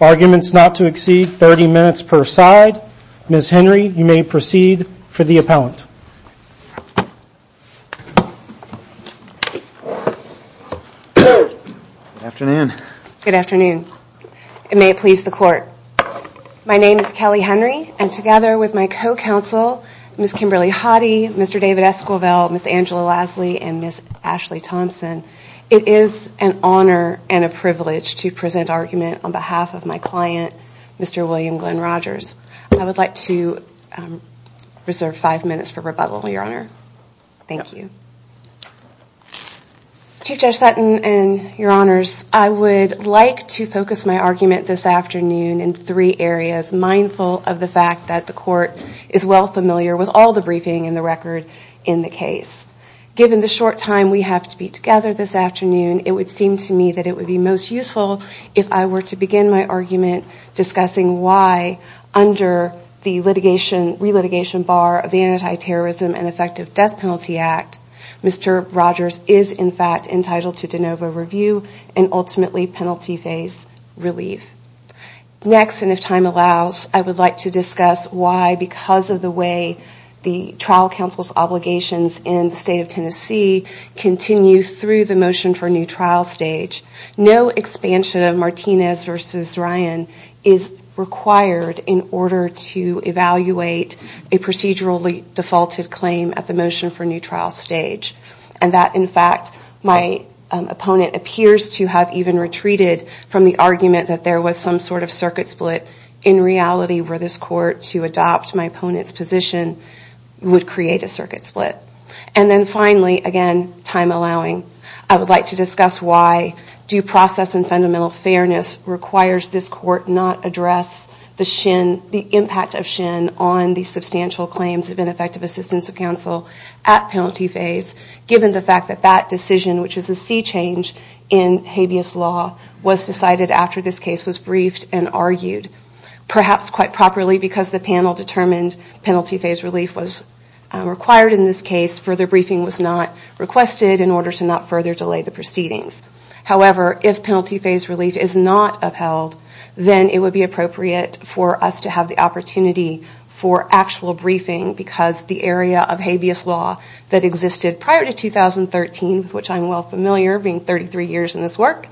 Arguments not to exceed 30 minutes per side. Ms. Henry, you may proceed for the appellant. Good afternoon. Good afternoon. And may it please the court. My name is Kelly Henry and together with my co-counsel, Ms. Kimberly Hoddy, Mr. David Esquivel, Ms. Angela Lasley and Ms. Ashley Thompson, it is an honor and a privilege to present argument on behalf of my client, Mr. William Glenn Rogers. I would like to reserve five minutes for rebuttal, Your Honor. Thank you. Chief Judge Sutton and Your Honors, I would like to focus my the court is well familiar with all the briefing and the record in the case. Given the short time we have to be together this afternoon, it would seem to me that it would be most useful if I were to begin my argument discussing why, under the re-litigation bar of the Anti-Terrorism and Effective Death Penalty Act, Mr. Rogers is, in fact, entitled to de novo review and ultimately penalty phase relief. Next, and if time allows, I would like to discuss why, because of the way the trial counsel's obligations in the State of Tennessee continue through the motion for new trial stage, no expansion of Martinez v. Ryan is required in order to evaluate a procedurally defaulted claim at the motion for new trial stage. And that, in fact, my opponent appears to have even retreated from the argument that there was some sort of circuit split in reality where this court, to adopt my opponent's position, would create a circuit split. And then finally, again, time allowing, I would like to discuss why due process and fundamental fairness requires this court not address the impact of Shin on the substantial claims of ineffective assistance of counsel at penalty phase, given the fact that that decision, which is a sea change in habeas law, was decided after this case was briefed and argued. Perhaps quite properly, because the panel determined penalty phase relief was required in this case, further briefing was not requested in order to not further delay the proceedings. However, if penalty phase relief is not upheld, then it would be appropriate for us to have the opportunity for actual briefing, because the area of habeas law that existed prior to 2013, which I'm well familiar being 33 years in this work,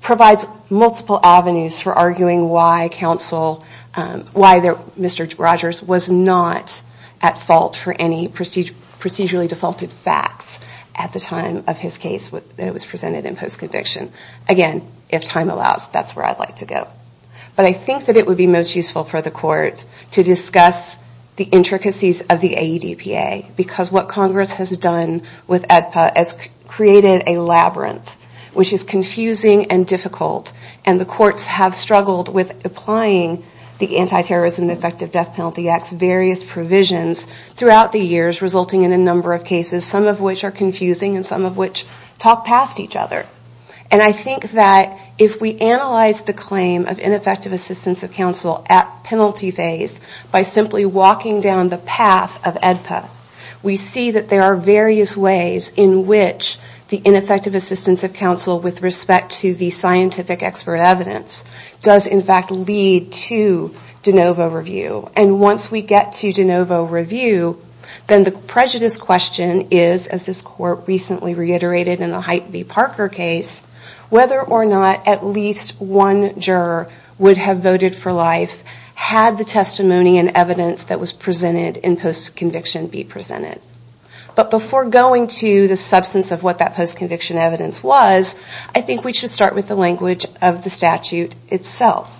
provides multiple avenues for arguing why counsel, why Mr. Rogers was not at fault for any procedurally defaulted facts at the time of his case that was presented in post-conviction. Again, if time allows, that's where I'd like to go. But I think that it would be most useful for the court to discuss the intricacies of the AEDPA, because what Congress has done with AEDPA has created a labyrinth, which is confusing and difficult. And the courts have struggled with applying the Anti-Terrorism and Effective Death Penalty Act's various provisions throughout the years, resulting in a number of cases, some of which are confusing and some of which talk past each other. And I think that if we analyze the claim of ineffective assistance of counsel at penalty phase, by simply walking down the path of AEDPA, we see that there are various ways in which the ineffective assistance of counsel with respect to the scientific expert evidence does in fact lead to de novo review. And once we get to de novo review, then the prejudice question is, as this court recently reiterated in the Heit B. Parker case, whether or not at least one juror would have voted for life had the testimony and evidence that was presented in post-conviction be presented. But before going to the substance of what that post-conviction evidence was, I think we should start with the language of the statute itself.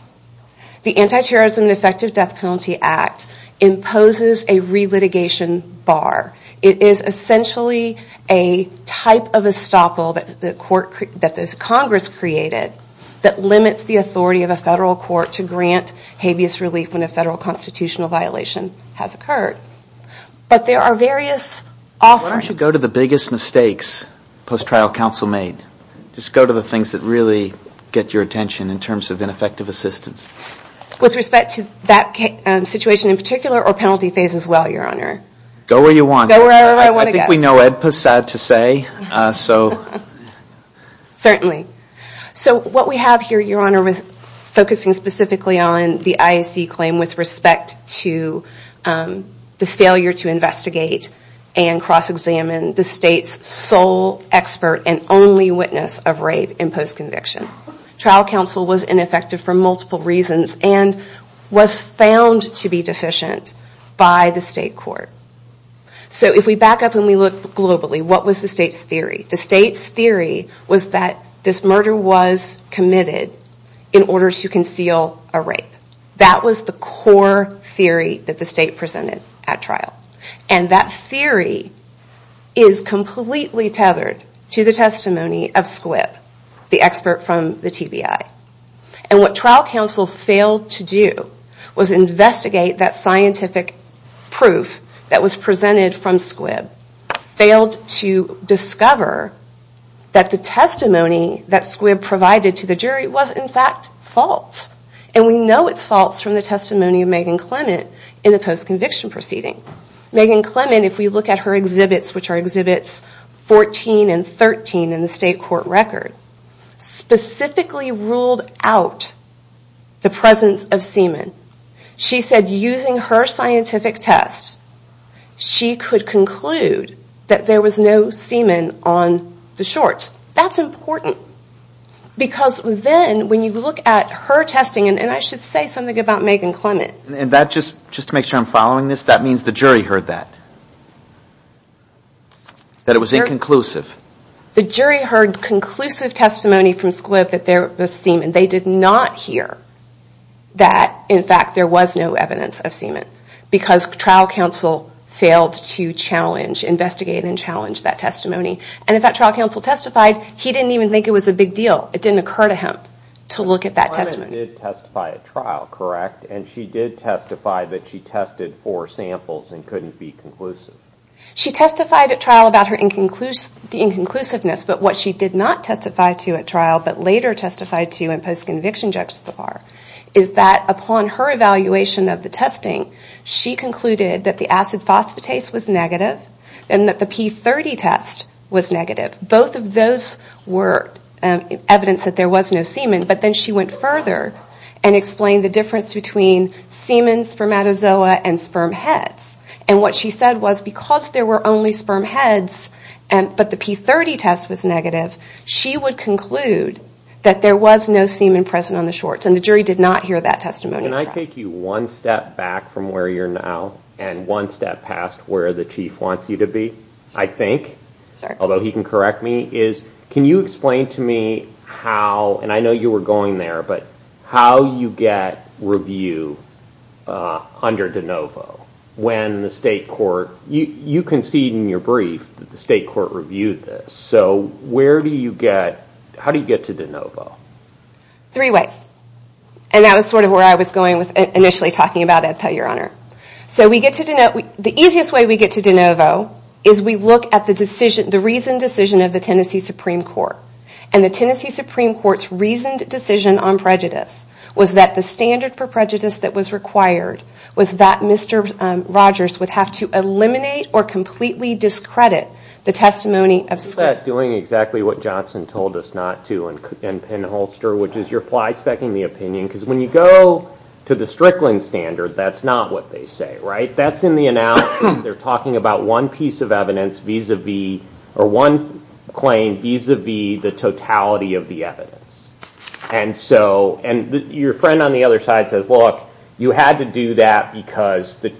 The Anti-Terrorism and Effective Death Penalty Act imposes a stoppel that the Congress created that limits the authority of a federal court to grant habeas relief when a federal constitutional violation has occurred. But there are various offerings. Why don't you go to the biggest mistakes post-trial counsel made? Just go to the things that really get your attention in terms of ineffective assistance. With respect to that situation in particular or penalty phase as well, Your Honor? Go where you want. Go wherever I want to go. We know Ed was sad to say. Certainly. So what we have here, Your Honor, is focusing specifically on the IAC claim with respect to the failure to investigate and cross-examine the state's sole expert and only witness of rape in post-conviction. Trial counsel was ineffective for multiple reasons and was found to be deficient by the state court. So if we back up and we look globally, what was the state's theory? The state's theory was that this murder was committed in order to conceal a rape. That was the core theory that the state presented at trial. And that theory is completely tethered to the testimony of Squibb, the expert from the TBI. And what trial counsel failed to do was investigate that scientific proof that was failed to discover that the testimony that Squibb provided to the jury was in fact false. And we know it's false from the testimony of Megan Clement in the post-conviction proceeding. Megan Clement, if we look at her exhibits, which are Exhibits 14 and 13 in the state court record, specifically ruled out the presence of semen. She said using her scientific test, she could conclude that there was no semen on the shorts. That's important. Because then when you look at her testing, and I should say something about Megan Clement. And that just to make sure I'm following this, that means the jury heard that. That it was inconclusive. The jury heard conclusive testimony from Squibb that there was semen. They did not hear that in fact there was no evidence of semen. Because trial counsel failed to challenge, investigate and challenge that testimony. And if that trial counsel testified, he didn't even think it was a big deal. It didn't occur to him to look at that testimony. Clement did testify at trial, correct? And she did testify that she tested four samples and couldn't be conclusive. She testified at trial about her inconclusiveness, but what she did not testify to at trial, but later testified to in post-conviction juxtapar, is that upon her evaluation of the testing, she concluded that the acid phosphatase was negative and that the P30 test was negative. Both of those were evidence that there was no semen, but then she went further and explained the difference between semen, spermatozoa and sperm heads. And what she said was because there were only sperm heads, but the P30 test was negative, she would conclude that there was no semen present on the shorts and the jury did not hear that testimony. Can I take you one step back from where you're now and one step past where the Chief wants you to be? I think, although he can correct me, is can you explain to me how, and I know you were going there, but how you get review under DeNovo when the state court, you concede in your brief that the state court reviewed this, so where do you get, how do you get to DeNovo? Three ways. And that was sort of where I was going with initially talking about Ed Pell, your Honor. So we get to DeNovo, the easiest way we get to DeNovo is we look at the decision, the reasoned decision of the Tennessee Supreme Court. And the Tennessee Supreme Court's reasoned decision on prejudice was that the standard for prejudice that was required was that Mr. Rogers would have to eliminate or completely discredit the testimony of... Is that doing exactly what Johnson told us not to in Penholster, which is you're fly-specking the opinion, because when you go to the Strickland standard, that's not what they say, right? That's in the announcement. They're talking about one piece of evidence vis-a-vis, or one claim vis-a-vis the totality of the evidence. And so, and your friend on the other side says, look, you had to do that because the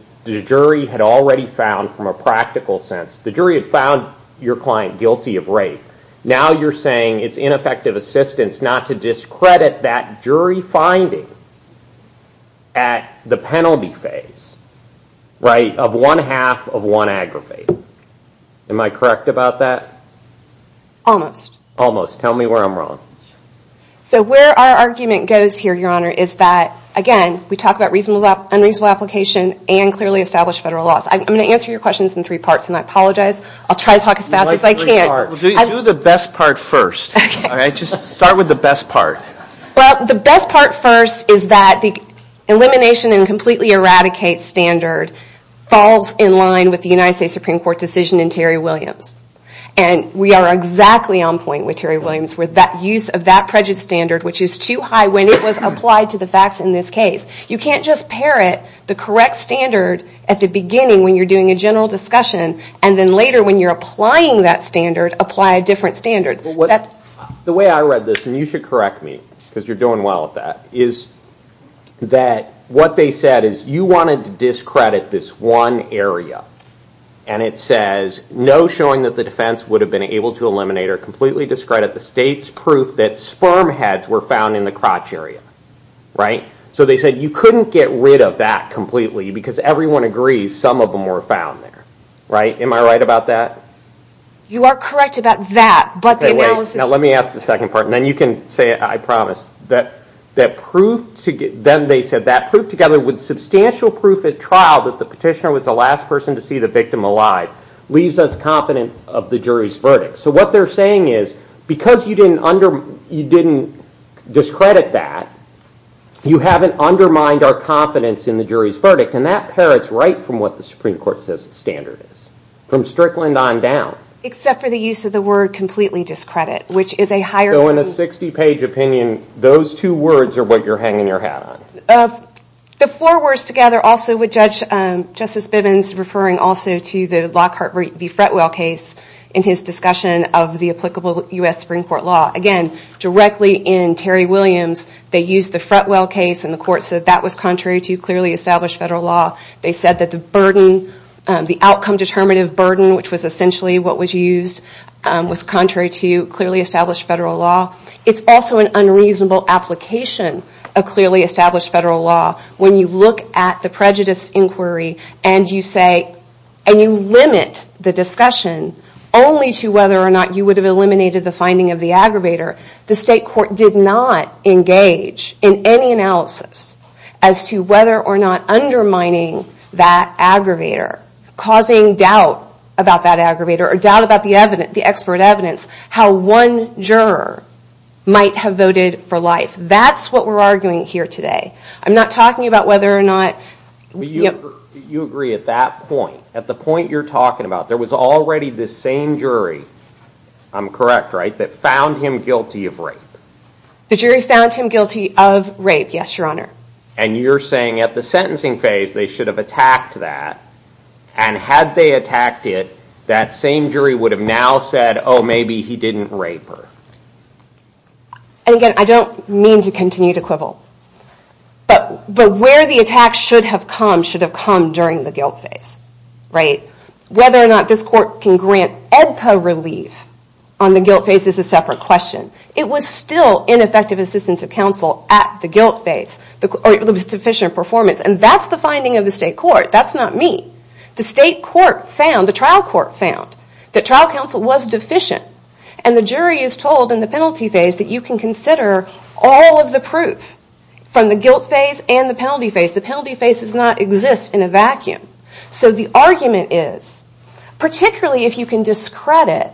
jury had already found from a practical sense, the jury had found your client guilty of rape. Now you're saying it's ineffective assistance not to discredit that jury finding at the penalty phase, right? Of one half of one aggravated. Am I correct about that? Almost. Tell me where I'm wrong. So where our argument goes here, Your Honor, is that, again, we talk about unreasonable application and clearly established federal laws. I'm going to answer your questions in three parts, and I apologize. I'll try to talk as fast as I can. Do the best part first. Just start with the best part. Well, the best part first is that the elimination and completely eradicate standard falls in line with the United States Supreme Court decision in Terry Williams. And we are exactly on point with Terry Williams with that use of that prejudice standard, which is too high when it was applied to the facts in this case. You can't just parrot the correct standard at the beginning when you're doing a general discussion, and then later when you're applying that standard, apply a different standard. The way I read this, and you should correct me because you're doing well at that, is that what they said is you wanted to discredit this one area. And it says, no showing that the defense would have been able to eliminate or completely discredit the state's proof that sperm heads were found in the crotch area. Right? So they said you couldn't get rid of that completely because everyone agrees some of them were found there. Right? Am I right about that? You are correct about that, but the analysis... Okay, wait. Now let me ask the second part, and then you can say it, I promise. That proof together, then they said, that proof together with substantial proof at trial that the petitioner was the last person to see the victim alive, leaves us confident of the jury's verdict. So what they're saying is, because you didn't discredit that, you haven't undermined our confidence in the jury's verdict. And that parrots right from what the Supreme Court says the standard is, from Strickland on down. Except for the use of the word completely discredit, which is a higher... So in a 60-page opinion, those two words are what you're hanging your hat on. The four words together also with Justice Bibbins referring also to the Lockhart v. Fretwell case in his discussion of the applicable U.S. Supreme Court law. Again, directly in Terry Williams, they used the Fretwell case, and the court said that was contrary to clearly established federal law. They said that the burden, the outcome determinative burden, which was essentially what was used, was contrary to clearly established federal law. It's also an unreasonable application of clearly established federal law. When you look at the prejudice inquiry and you say, and you limit the discussion only to whether or not you would have eliminated the finding of the aggravator, the state court did not engage in any analysis as to whether or not undermining that aggravator, causing doubt about that might have voted for life. That's what we're arguing here today. I'm not talking about whether or not... You agree at that point. At the point you're talking about, there was already this same jury, I'm correct, right? That found him guilty of rape. The jury found him guilty of rape, yes, your honor. And you're saying at the sentencing phase, they should have attacked that, and had they And again, I don't mean to continue to quibble, but where the attack should have come, should have come during the guilt phase, right? Whether or not this court can grant EDPA relief on the guilt phase is a separate question. It was still ineffective assistance of counsel at the guilt phase, or it was deficient performance, and that's the finding of the state court. That's not me. The state court found, the trial court found, that trial counsel was can consider all of the proof from the guilt phase and the penalty phase. The penalty phase does not exist in a vacuum. So the argument is, particularly if you can discredit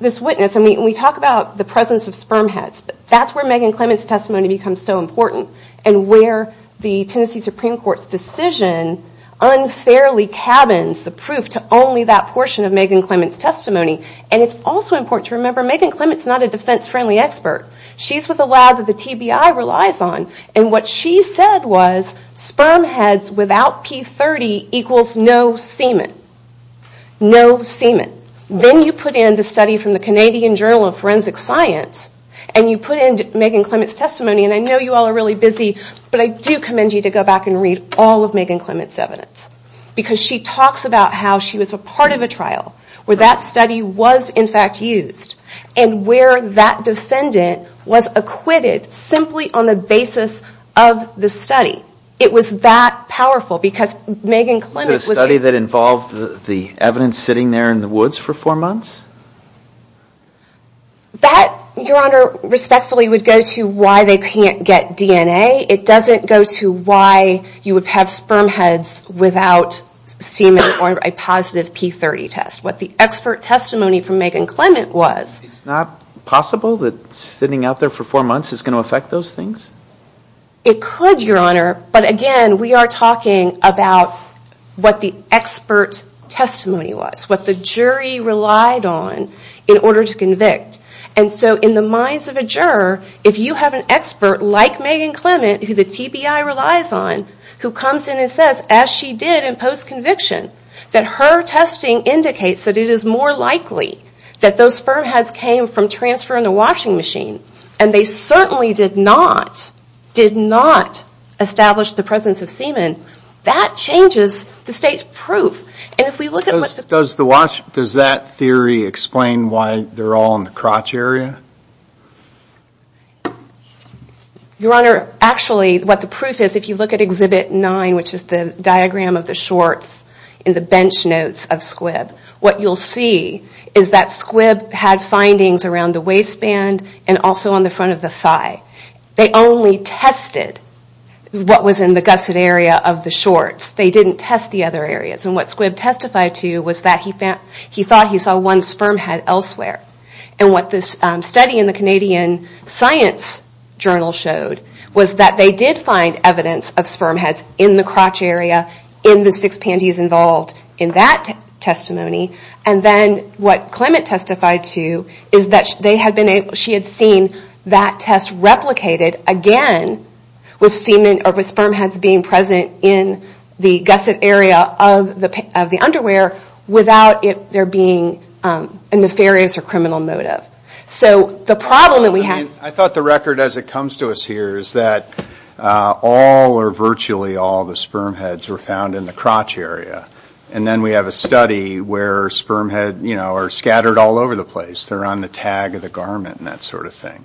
this witness, and we talk about the presence of sperm heads, that's where Megan Clement's testimony becomes so important, and where the Tennessee Supreme Court's decision unfairly cabins the proof to only that portion of Megan Clement's testimony, and it's also important to remember, Megan Clement's not a defense-friendly expert. She's with a lab that the TBI relies on, and what she said was sperm heads without P30 equals no semen. No semen. Then you put in the study from the Canadian Journal of Forensic Science, and you put in Megan Clement's testimony, and I know you all are really busy, but I do commend you to go back and read all of Megan Clement's evidence, because she talks about how she was a part of a trial, where that study was in fact used, and where that defendant was acquitted simply on the basis of the study. It was that powerful, because Megan Clement was... The study that involved the evidence sitting there in the woods for four months? That, Your Honor, respectfully would go to why they can't get DNA. It doesn't go to why you would have sperm heads without semen or a positive P30 test. What the expert testimony from Megan Clement was... It's not possible that sitting out there for four months is going to affect those things? It could, Your Honor, but again, we are talking about what the expert testimony was, what the jury relied on in order to convict. And so in the minds of a juror, if you have an who comes in and says, as she did in post-conviction, that her testing indicates that it is more likely that those sperm heads came from transfer in the washing machine, and they certainly did not, did not establish the presence of semen, that changes the state's proof. And if we look at... Does that theory explain why they're all in the crotch area? Your Honor, actually, what the proof is, if you look at Exhibit 9, which is the diagram of the shorts and the bench notes of Squibb, what you'll see is that Squibb had findings around the waistband and also on the front of the thigh. They only tested what was in the gusset area of the shorts. They didn't test the other areas. And what Squibb testified to was that he thought he saw one sperm head elsewhere. And what this study in the Canadian science journal showed was that they did find evidence of sperm heads in the crotch area in the six panties involved in that testimony. And then what Clement testified to is that she had seen that test replicated again with sperm heads being present in the gusset area of the underwear without there being a nefarious or criminal motive. So the problem that we have... I thought the record as it comes to us here is that all or virtually all the sperm heads were found in the crotch area. And then we have a study where sperm heads are scattered all over the place. They're on the tag of the garment and that sort of thing.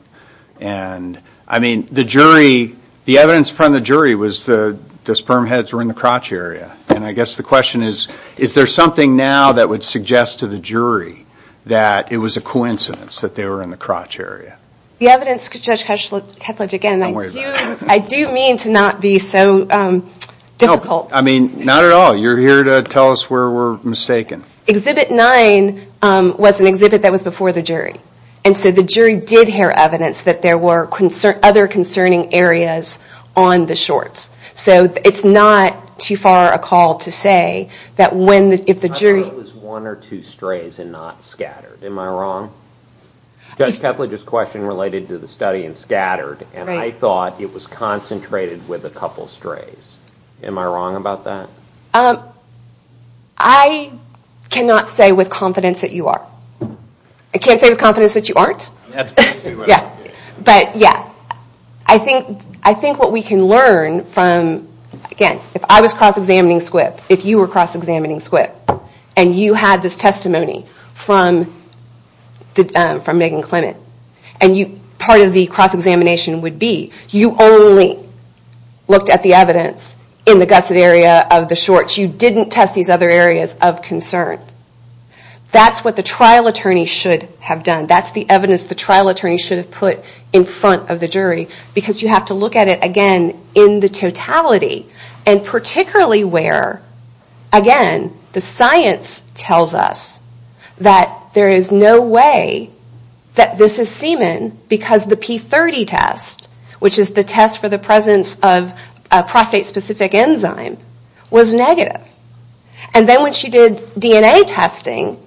And I mean, the jury, the evidence from the jury was the sperm heads were in the crotch area. And I guess the question is, is there something now that would suggest to the jury that it was a coincidence that they were in the crotch area? The evidence, Judge Ketledge, again, I do mean to not be so difficult. No, I mean, not at all. You're here to tell us where we're mistaken. Exhibit nine was an exhibit that was before the jury. And so the jury did hear evidence that there were other concerning areas on the shorts. So it's not too far a call to say that when, if the jury... I thought it was one or two strays and not scattered. Am I wrong? Judge Ketledge's question related to the study and scattered. And I thought it was concentrated with a couple strays. Am I wrong about that? I cannot say with confidence that you are. I can't say with confidence that you aren't. That's basically what I'm saying. But yeah, I think what we can learn from, again, if I was cross-examining Squip, if you were cross-examining Squip, and you had this testimony from Megan Clement, and part of the cross-examination would be you only looked at the evidence in the gusset area of the shorts. You didn't test these other areas of concern. That's what the trial attorney should have done. That's the evidence the trial attorney should have put in front of the jury because you have to look at it, again, in the totality and particularly where, again, the science tells us that there is no way that this is semen because the P30 test, which is the test for the presence of a prostate-specific enzyme, was negative. And then when she did DNA testing,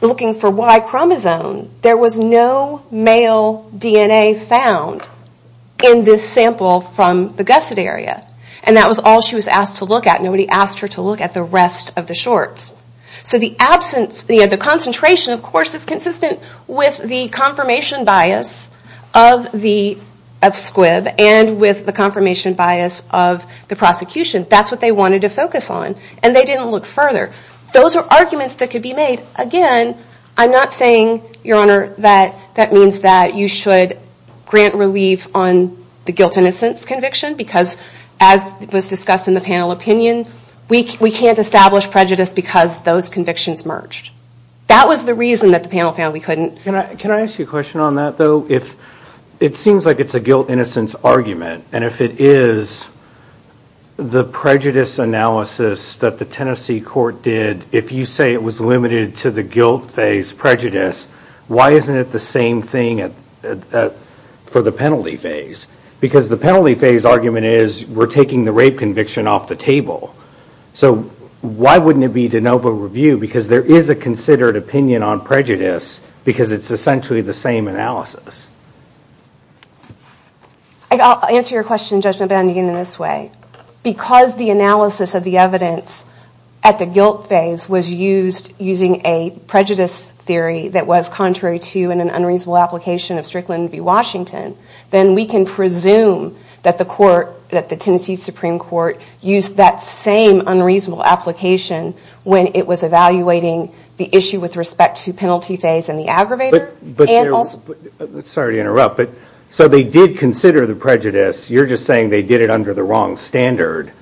looking for Y-chromosome, there was no male DNA found in this sample from the gusset area. And that was all she was asked to look at. Nobody asked her to look at the rest of the shorts. So the absence, the concentration, of course, is consistent with the confirmation bias of Squip and with the confirmation bias of the prosecution. That's what they wanted to focus on. And they didn't look further. Those are arguments that could be made. Again, I'm not saying, Your Honor, that that means that you should grant relief on the guilt-innocence conviction because, as was discussed in the panel opinion, we can't establish prejudice because those convictions merged. That was the reason that the panel found we couldn't. Can I ask you a question on that though? It seems like it's a guilt-innocence argument and if it is, the prejudice analysis that the Tennessee court did, if you say it was limited to the guilt phase prejudice, why isn't it the same thing for the penalty phase? Because the penalty phase argument is, we're taking the rape conviction off the table. So why wouldn't it be de novo review? Because there is a considered opinion on prejudice because it's essentially the same analysis. I'll answer your question, Judge McBain, again in this way. Because the analysis of the evidence at the guilt phase was used using a prejudice theory that was contrary to and an unreasonable application of Strickland v. Washington, then we can presume that the court, that the Tennessee Supreme Court, used that same unreasonable application when it was evaluating the issue with respect to penalty phase and the aggravator and also the guilt phase. Sorry to interrupt, but so they did consider the prejudice, you're just saying they did it under the wrong standard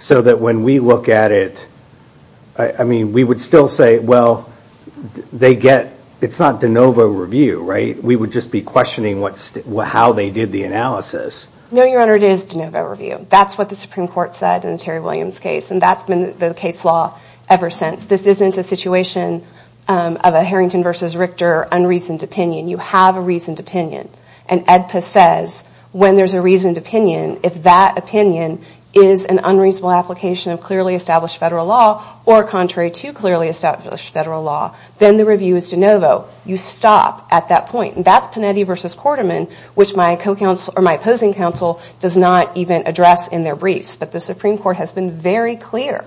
so that when we look at it, I mean we would still say, well they get, it's not de novo review, right? We would just be questioning how they did the analysis. No, Your Honor, it is de novo review. That's what the Supreme Court said in the Terry Williams case and that's been the case law ever since. This isn't a situation of a Harrington v. Richter unreasoned opinion. You have a reasoned opinion and EDPA says when there's a reasoned opinion, if that opinion is an unreasonable application of clearly established federal law or contrary to clearly established federal law, then the review is de novo. You stop at that point and that's Panetti v. Quarterman, which my opposing counsel does not even address in their briefs. But the Supreme Court has been very clear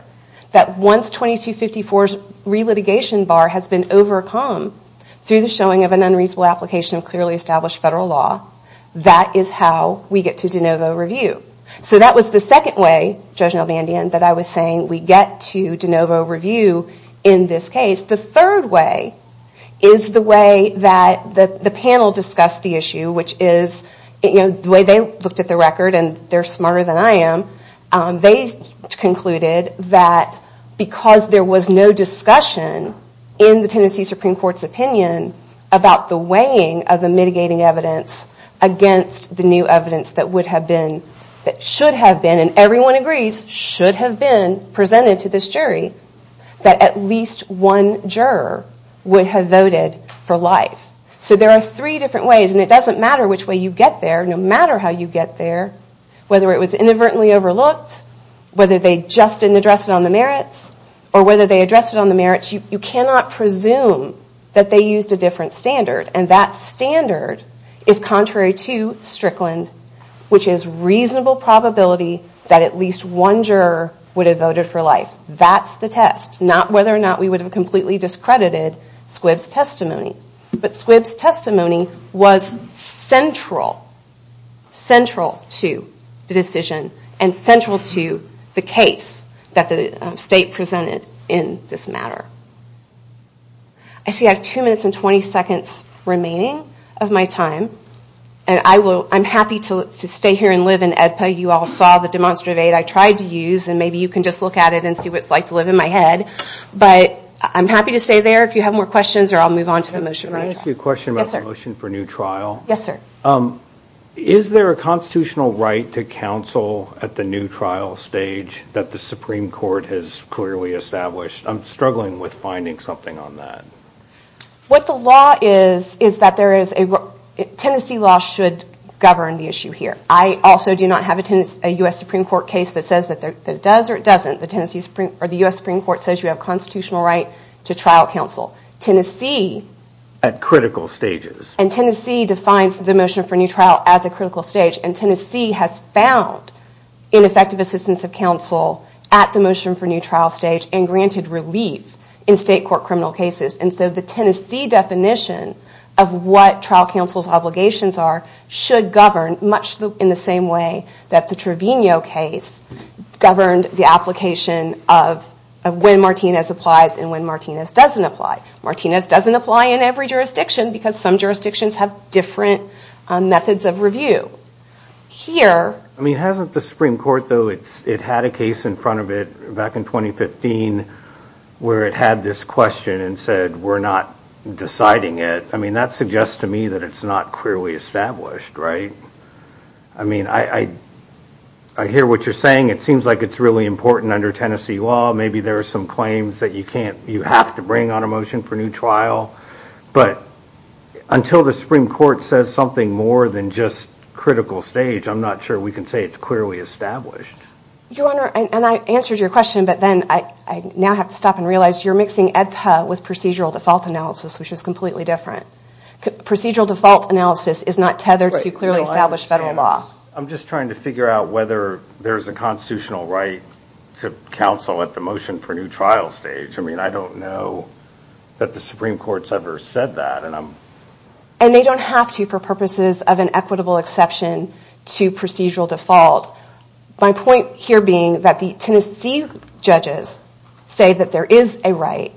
that once 2254's relitigation bar has been overcome through the showing of an unreasonable application of clearly established federal law, that is how we get to de novo review. So that was the second way, Judge Nelvandian, that I was saying we get to de novo review in this case. The third way is the way that the panel discussed the issue, which is the way they looked at the record and they're smarter than I am. They concluded that because there was no discussion in the Tennessee Supreme Court's opinion about the weighing of the mitigating evidence against the new evidence that would have been, that should have been, and everyone agrees should have been presented to this jury, that at least one juror would have voted for life. So there are three different ways and it doesn't matter which way you get there, no matter how you get there, whether it was inadvertently overlooked, whether they just didn't address it on the merits, or whether they addressed it on the merits, you cannot presume that they used a different standard and that standard is contrary to Strickland, which is reasonable probability that at least one juror would have voted for life. That's the test, not whether or not we would have completely discredited Squibb's testimony. But Squibb's testimony was central, central to the decision and central to the case that the state presented in this matter. I see I have 2 minutes and 20 seconds remaining of my time and I'm happy to stay here and live in AEDPA. You all saw the demonstrative aid I tried to use and maybe you can just look at it and see what it's like to live in my head, but I'm happy to stay there if you have more questions or I'll move on to the motion for my trial. Let me ask you a question about the motion for new trial. Yes sir. Is there a constitutional right to counsel at the new trial stage that the Supreme Court has clearly established? I'm struggling with finding something on that. What the law is, is that there is a Tennessee law should govern the issue here. I also do not have a U.S. Supreme Court case that says that it does or it doesn't. The U.S. Supreme Court says you have constitutional right to trial counsel. Tennessee... At critical stages. And Tennessee defines the motion for new trial as a critical stage and Tennessee has found ineffective assistance of counsel at the motion for new trial stage and granted relief in state court criminal cases and so the Tennessee definition of what trial counsel's obligations are should govern much in the same way that the Trevino case governed the application of when Martinez applies and when Martinez doesn't apply. Martinez doesn't apply in every jurisdiction, have different methods of review. I mean, hasn't the Supreme Court though, it had a case in front of it back in 2015 where it had this question and said we're not deciding it. I mean, that suggests to me that it's not clearly established, right? I mean, I hear what you're saying. It seems like it's really important under Tennessee law. Maybe there are some claims that you have to bring on a motion for new trial, but until the Supreme Court says something more than just critical stage, I'm not sure we can say it's clearly established. Your Honor, and I answered your question, but then I now have to stop and realize you're mixing EDPA with procedural default analysis, which is completely different. Procedural default analysis is not tethered to clearly established federal law. I'm just trying to figure out whether there's a constitutional right to counsel at the motion for new trial stage. I mean, I don't know that the Supreme Court's ever said that. And they don't have to for purposes of an equitable exception to procedural default. My point here being that the Tennessee judges say that there is a right,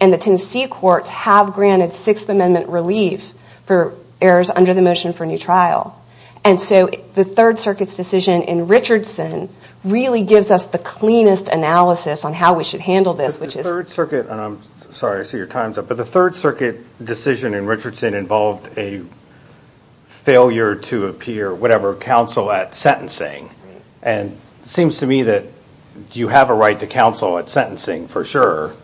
and the Tennessee courts have granted Sixth Amendment relief for errors under the motion for new trial. And so the Third Circuit's decision in Richardson really gives us the cleanest analysis on how we should handle this, which is... But the Third Circuit, and I'm sorry, I see your time's up, but the Third Circuit decision in Richardson involved a failure to appear, whatever, counsel at sentencing. And it seems to me that you have a right to counsel at sentencing for sure.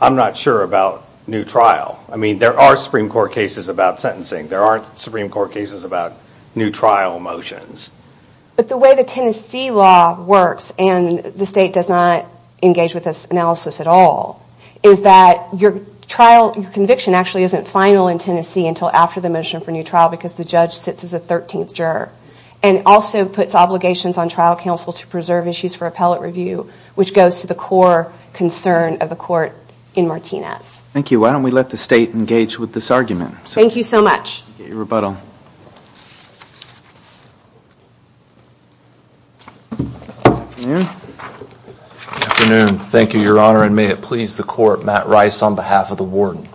I'm not sure about new trial. I mean, there are Supreme Court cases about sentencing. There aren't Supreme Court cases about new trial motions. But the way the Tennessee law works, and the state does not engage with this analysis at all, is that your trial, your conviction actually isn't final in Tennessee until after the motion for new trial because the judge sits as a 13th juror, and also puts obligations on trial counsel to preserve issues for appellate review, which goes to the core concern of the court in Martinez. Thank you. Why don't we let the state engage with this argument? Thank you so much. Get your rebuttal. Good afternoon. Thank you, Your Honor, and may it please the court, Matt Rice on behalf of the warden.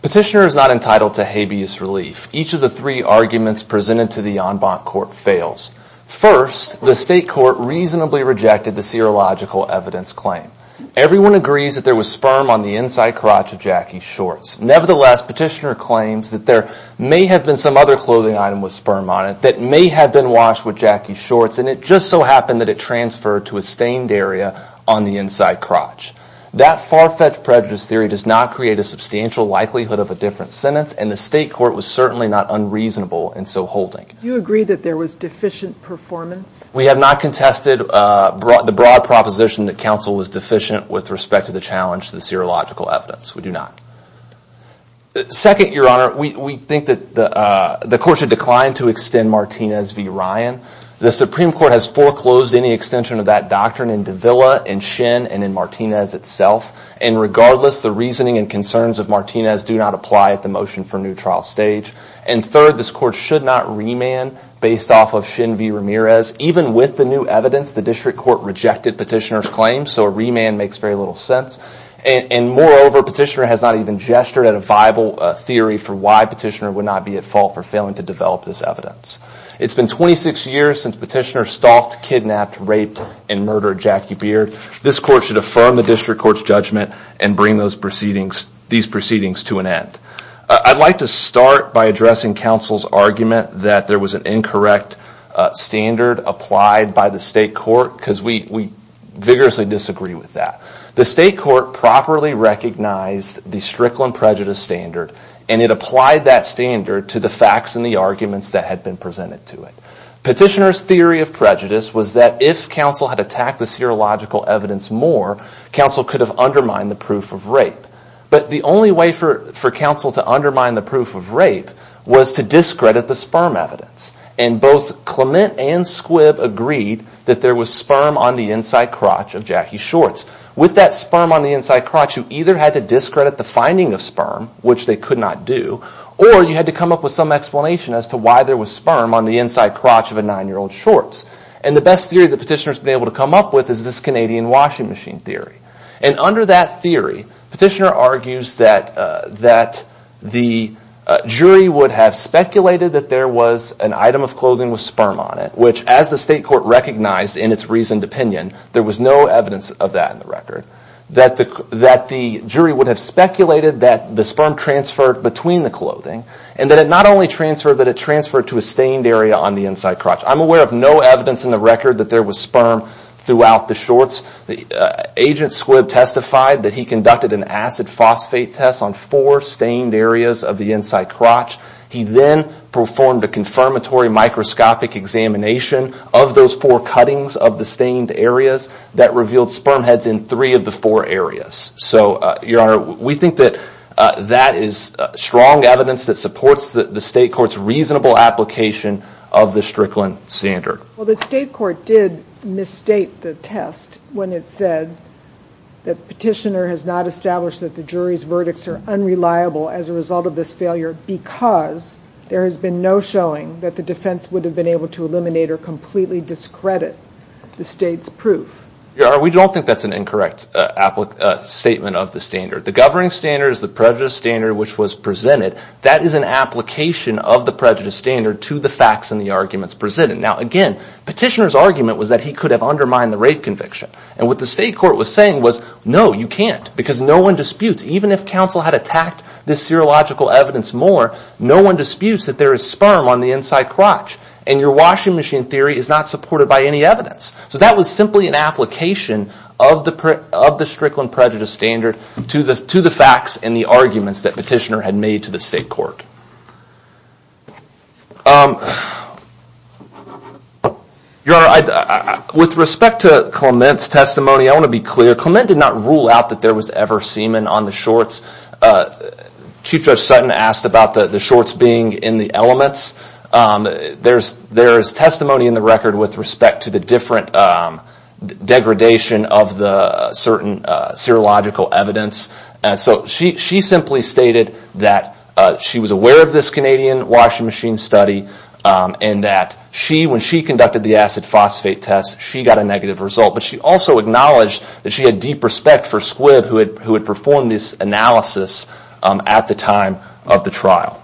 Petitioner is not entitled to habeas relief. Each of the three arguments presented to the en banc court fails. First, the state court reasonably rejected the serological evidence claim. Everyone agrees that there was sperm on the inside crotch of Jackie's shorts. Nevertheless, petitioner claims that there may have been some other clothing item with sperm on it that may have been washed with Jackie's shorts, and it just so happened that it transferred to a stained area on the inside crotch. That far-fetched prejudice theory does not create a substantial likelihood of a different sentence, and the state court was certainly not unreasonable in so holding. Do you agree that there was deficient performance? We have not contested the broad proposition that counsel was deficient with respect to the challenge to the serological evidence. We do not. Second, Your Honor, we think that the court should decline to extend Martinez v. Ryan. The Supreme Court has foreclosed any extension of that doctrine in Davila, in Shin, and in Martinez itself. And regardless, the reasoning and concerns of Martinez do not apply at the motion for new trial stage. And third, this court should not remand based off of Shin v. Ramirez. Even with the new evidence, the district court rejected petitioner's claim, so a remand makes very little sense. And moreover, petitioner has not even gestured at a viable theory for why petitioner would not be at fault for failing to develop this evidence. It's been 26 years since petitioner stalked, kidnapped, raped, and murdered Jackie Beard. This court should affirm the district court's judgment and bring these proceedings to an end. I'd like to start by addressing counsel's argument that there was an incorrect standard applied by the state court, because we vigorously disagree with that. The state court properly recognized the Strickland prejudice standard, and it applied that standard to the facts and the arguments that had been presented to it. Petitioner's theory of prejudice was that if counsel had attacked the serological evidence more, counsel could have undermined the proof of rape. But the only way for counsel to undermine the proof of rape was to discredit the sperm evidence. And both Clement and Squibb agreed that there was sperm on the inside crotch of Jackie's shorts. With that sperm on the inside crotch, you either had to discredit the finding of sperm, which they could not do, or you had to come up with some explanation as to why there was sperm on the inside crotch of a nine-year-old's shorts. And the best theory that petitioner's been able to come up with is this Canadian washing machine theory. And under that theory, petitioner argues that the jury would have speculated that there was an item of clothing with sperm on it, which as the state court recognized in its reasoned opinion, there was no evidence of that in the record. That the jury would have speculated that the sperm transferred between the clothing, and that it not only transferred, but it transferred to a stained area on the inside crotch. I'm aware of no evidence in the record that there was sperm throughout the shorts. Agent Squibb testified that he conducted an acid phosphate test on four stained areas of the inside crotch. He then performed a confirmatory microscopic examination of those four cuttings of the stained areas that revealed sperm heads in three of the four areas. So, your honor, we think that that is strong evidence that supports the state court's reasonable application of the Strickland standard. Well, the state court did misstate the test when it said that petitioner has not established that the jury's verdicts are unreliable as a result of this failure because there has been no showing that the defense would have been able to eliminate or completely discredit the state's proof. Your honor, we don't think that's an incorrect statement of the standard. The governing standard is the prejudice standard which was presented. That is an application of the prejudice standard to the facts and the arguments presented. Now, again, petitioner's argument was that he could have undermined the rape conviction. And what the state court was saying was, no, you can't because no one disputes. Even if counsel had evidence more, no one disputes that there is sperm on the inside crotch and your washing machine theory is not supported by any evidence. So, that was simply an application of the Strickland prejudice standard to the facts and the arguments that petitioner had made to the state court. Your honor, with respect to Clement's testimony, I want to be clear. Clement did not rule out that there was ever semen on the shorts. Chief Judge Sutton asked about the shorts being in the elements. There is testimony in the record with respect to the different degradation of the certain serological evidence. So, she simply stated that she was aware of this Canadian washing machine study and that when she conducted the acid phosphate test, she got a negative result. But she also acknowledged that she had deep respect for Squibb who had performed this analysis at the time of the trial.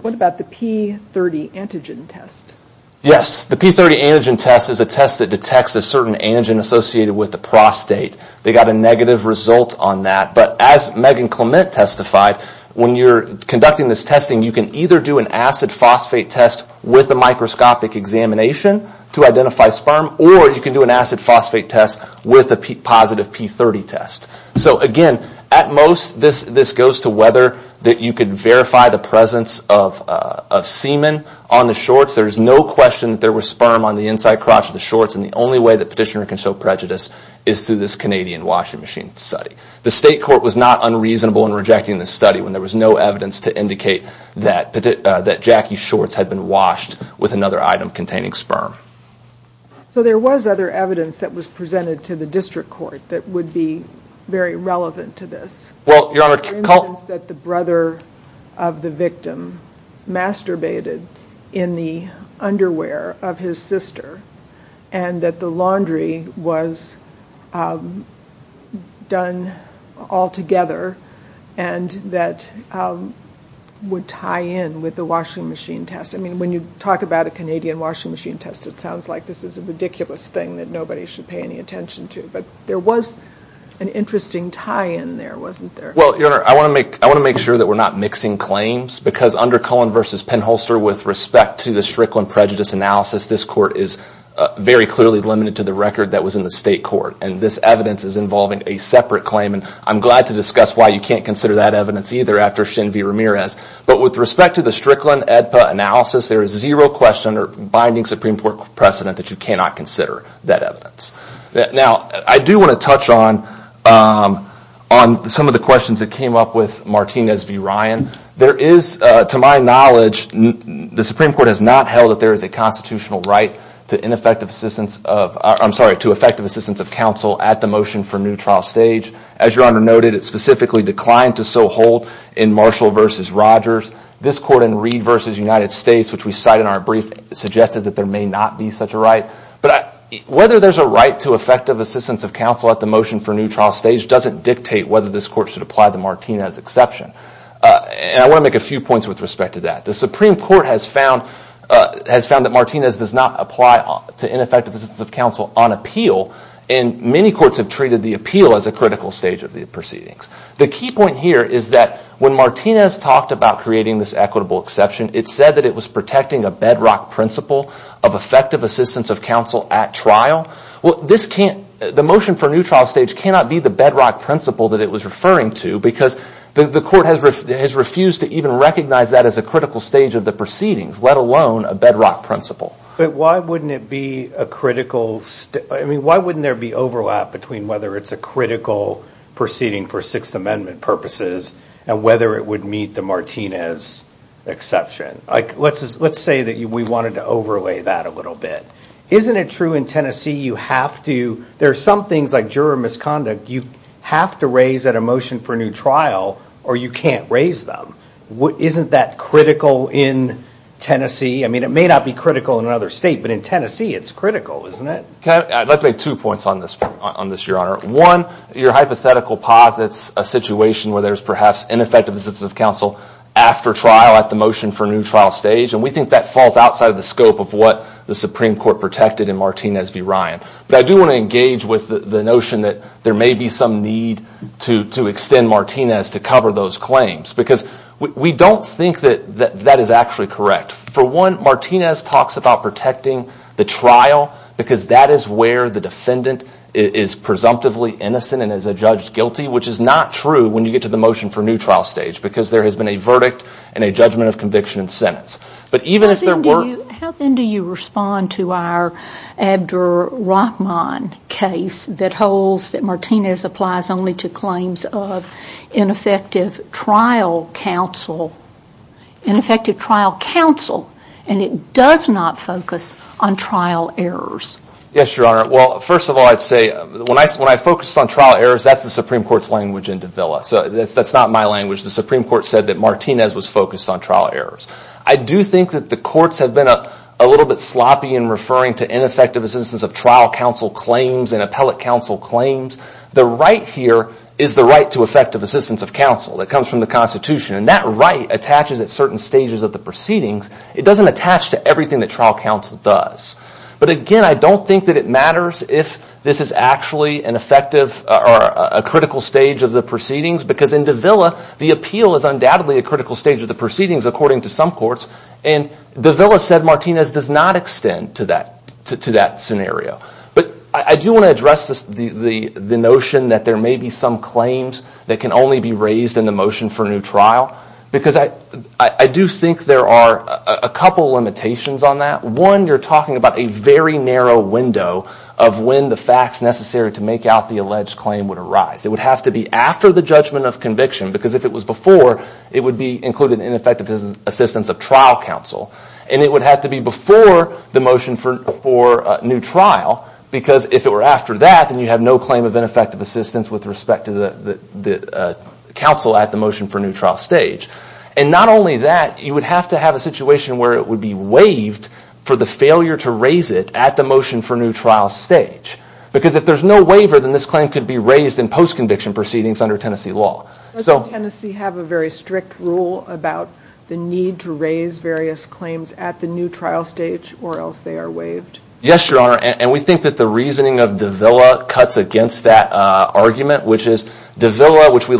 What about the P30 antigen test? Yes, the P30 antigen test is a test that detects a certain antigen associated with the prostate. They got a negative result on that. But as Megan Clement testified, when you're conducting this testing, you can either do an acid phosphate test with a microscopic examination to identify sperm, or you can do an acid phosphate test with a positive P30 test. So again, at most, this goes to whether you can verify the presence of semen on the shorts. There is no question that there was sperm on the inside crotch of the shorts and the only way that petitioner can show prejudice is through this Canadian washing machine study. The state court was not unreasonable in rejecting this study when there was no evidence to indicate that Jackie's shorts had been washed with another item containing sperm. So there was other evidence that was presented to the district court that would be very relevant to this. Well, your honor, the evidence that the brother of the victim masturbated in the underwear of his sister and that the laundry was done all together and that would tie in with the washing machine test. I mean, when you talk about a Canadian washing machine test, it sounds like this is a ridiculous thing that nobody should pay any attention to. But there was an interesting tie-in there, wasn't there? Well, your honor, I want to make sure that we're not mixing claims because under Cullen v. Penholster, with respect to the Strickland prejudice analysis, this court is very clearly limited to the record that was in the state court and this evidence is involving a separate claim and I'm glad to discuss why you can't consider that evidence either after Shin v. Ramirez. But with respect to the Strickland AEDPA analysis, there is zero question or binding Supreme Court precedent that you cannot consider that evidence. Now, I do want to touch on some of the questions that came up with Martinez v. Ryan. There is, to my knowledge, the Supreme Court has not held that there is a constitutional right to effective assistance of counsel at the motion for new trial stage. As your honor noted, it specifically declined to so hold in Marshall v. Rogers. This court in Reed v. United States, which we cite in our brief, suggested that there may not be such a right. But whether there's a right to effective assistance of counsel at the motion for new trial stage doesn't dictate whether this court should apply the Martinez exception. And I want to make a few points with respect to that. The Supreme Court has found that Martinez does not apply to ineffective assistance of counsel on appeal and many courts have treated the appeal as a critical stage of the proceedings. The key point here is that when Martinez talked about creating this equitable exception, it said that it was protecting a bedrock principle of effective assistance of counsel at trial. Well, the motion for new trial stage cannot be the bedrock principle that it was referring to because the court has refused to even recognize that as a critical stage of the proceedings, let alone a bedrock principle. But why wouldn't there be overlap between whether it's a critical proceeding for Sixth Amendment purposes and whether it would meet the Martinez exception? Let's say that we wanted to overlay that a little bit. Isn't it true in Tennessee you have to, there are some things like juror misconduct, you have to raise at a motion for new trial or you can't raise them. Isn't that critical in Tennessee? I mean, it may not be critical in another state, but in Tennessee it's critical, isn't it? I'd like to make two points on this, Your Honor. One, your hypothetical posits a situation where there's perhaps ineffective assistance of counsel after trial at the motion for new trial stage, and we think that falls outside the scope of what the Supreme Court protected in Martinez v. Ryan. But I do want to engage with the notion that there may be some need to extend Martinez to cover those claims because we don't think that that is actually correct. For one, Martinez talks about protecting the trial because that is where the defendant is presumptively innocent and is a judge guilty, which is not true when you get to the motion for new trial stage because there has been a verdict and a judgment of conviction sentence. But even if there were... How then do you respond to our Abdur Rahman case that holds that Martinez applies only to claims of ineffective trial counsel, ineffective trial counsel, and it does not focus on trial errors? Yes, Your Honor. Well, first of all, I'd say when I focused on trial errors, that's the Supreme Court's language in Martinez was focused on trial errors. I do think that the courts have been a little bit sloppy in referring to ineffective assistance of trial counsel claims and appellate counsel claims. The right here is the right to effective assistance of counsel that comes from the Constitution. And that right attaches at certain stages of the proceedings. It doesn't attach to everything that trial counsel does. But again, I don't think that it matters if this is actually an effective or a critical stage of the proceedings because in Davila, the appeal is undoubtedly a critical stage of the proceedings according to some courts. And Davila said Martinez does not extend to that scenario. But I do want to address the notion that there may be some claims that can only be raised in the motion for new trial because I do think there are a couple of limitations on that. One, you're talking about a very narrow window of when the facts necessary to make out the alleged claim would arise. It would have to be after the judgment of conviction because if it was before, it would be included in ineffective assistance of trial counsel. And it would have to be before the motion for new trial because if it were after that, then you have no claim of ineffective assistance with respect to the counsel at the motion for new trial stage. And not only that, you would have to have a situation where it would be waived for the failure to raise it at the motion for new trial stage. Because if there's no waiver, then this claim could be raised in post-conviction proceedings under Tennessee law. Does Tennessee have a very strict rule about the need to raise various claims at the new trial stage or else they are waived? Yes, Your Honor. And we think that the reasoning of Davila cuts against that argument, which is Davila stated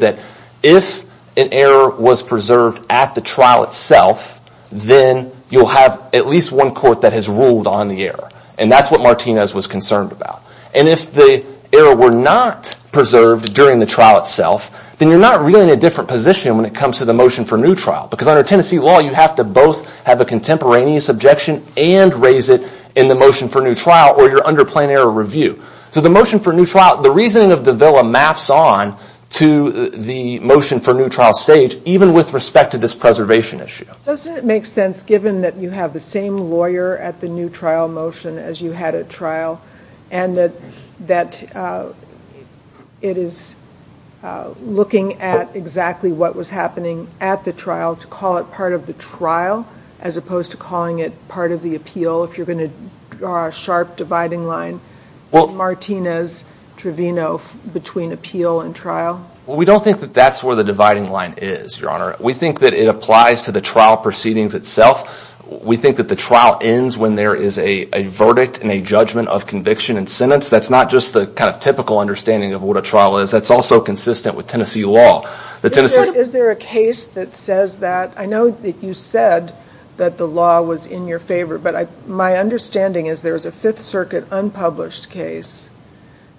that if an error was preserved at the trial itself, then you'll have at least one court that has ruled on the error. And that's what Martinez was concerned about. And if the error were not preserved during the trial itself, then you're not really in a different position when it comes to the motion for new trial. Because under Tennessee law, you have to both have a contemporaneous objection and raise it in the motion for new trial or you're under error review. So the motion for new trial, the reasoning of Davila maps on to the motion for new trial stage even with respect to this preservation issue. Doesn't it make sense given that you have the same lawyer at the new trial motion as you had at trial and that it is looking at exactly what was happening at the trial to call it part of the trial as opposed to calling it part of the appeal if you're going to draw a sharp dividing line with Martinez Trevino between appeal and trial? Well, we don't think that that's where the dividing line is, Your Honor. We think that it applies to the trial proceedings itself. We think that the trial ends when there is a verdict and a judgment of conviction and sentence. That's not just the kind of typical understanding of what a trial is. That's also consistent with Tennessee law. Is there a case that says that? I know that you said that the law was in your favor, but my understanding is there is a Fifth Circuit unpublished case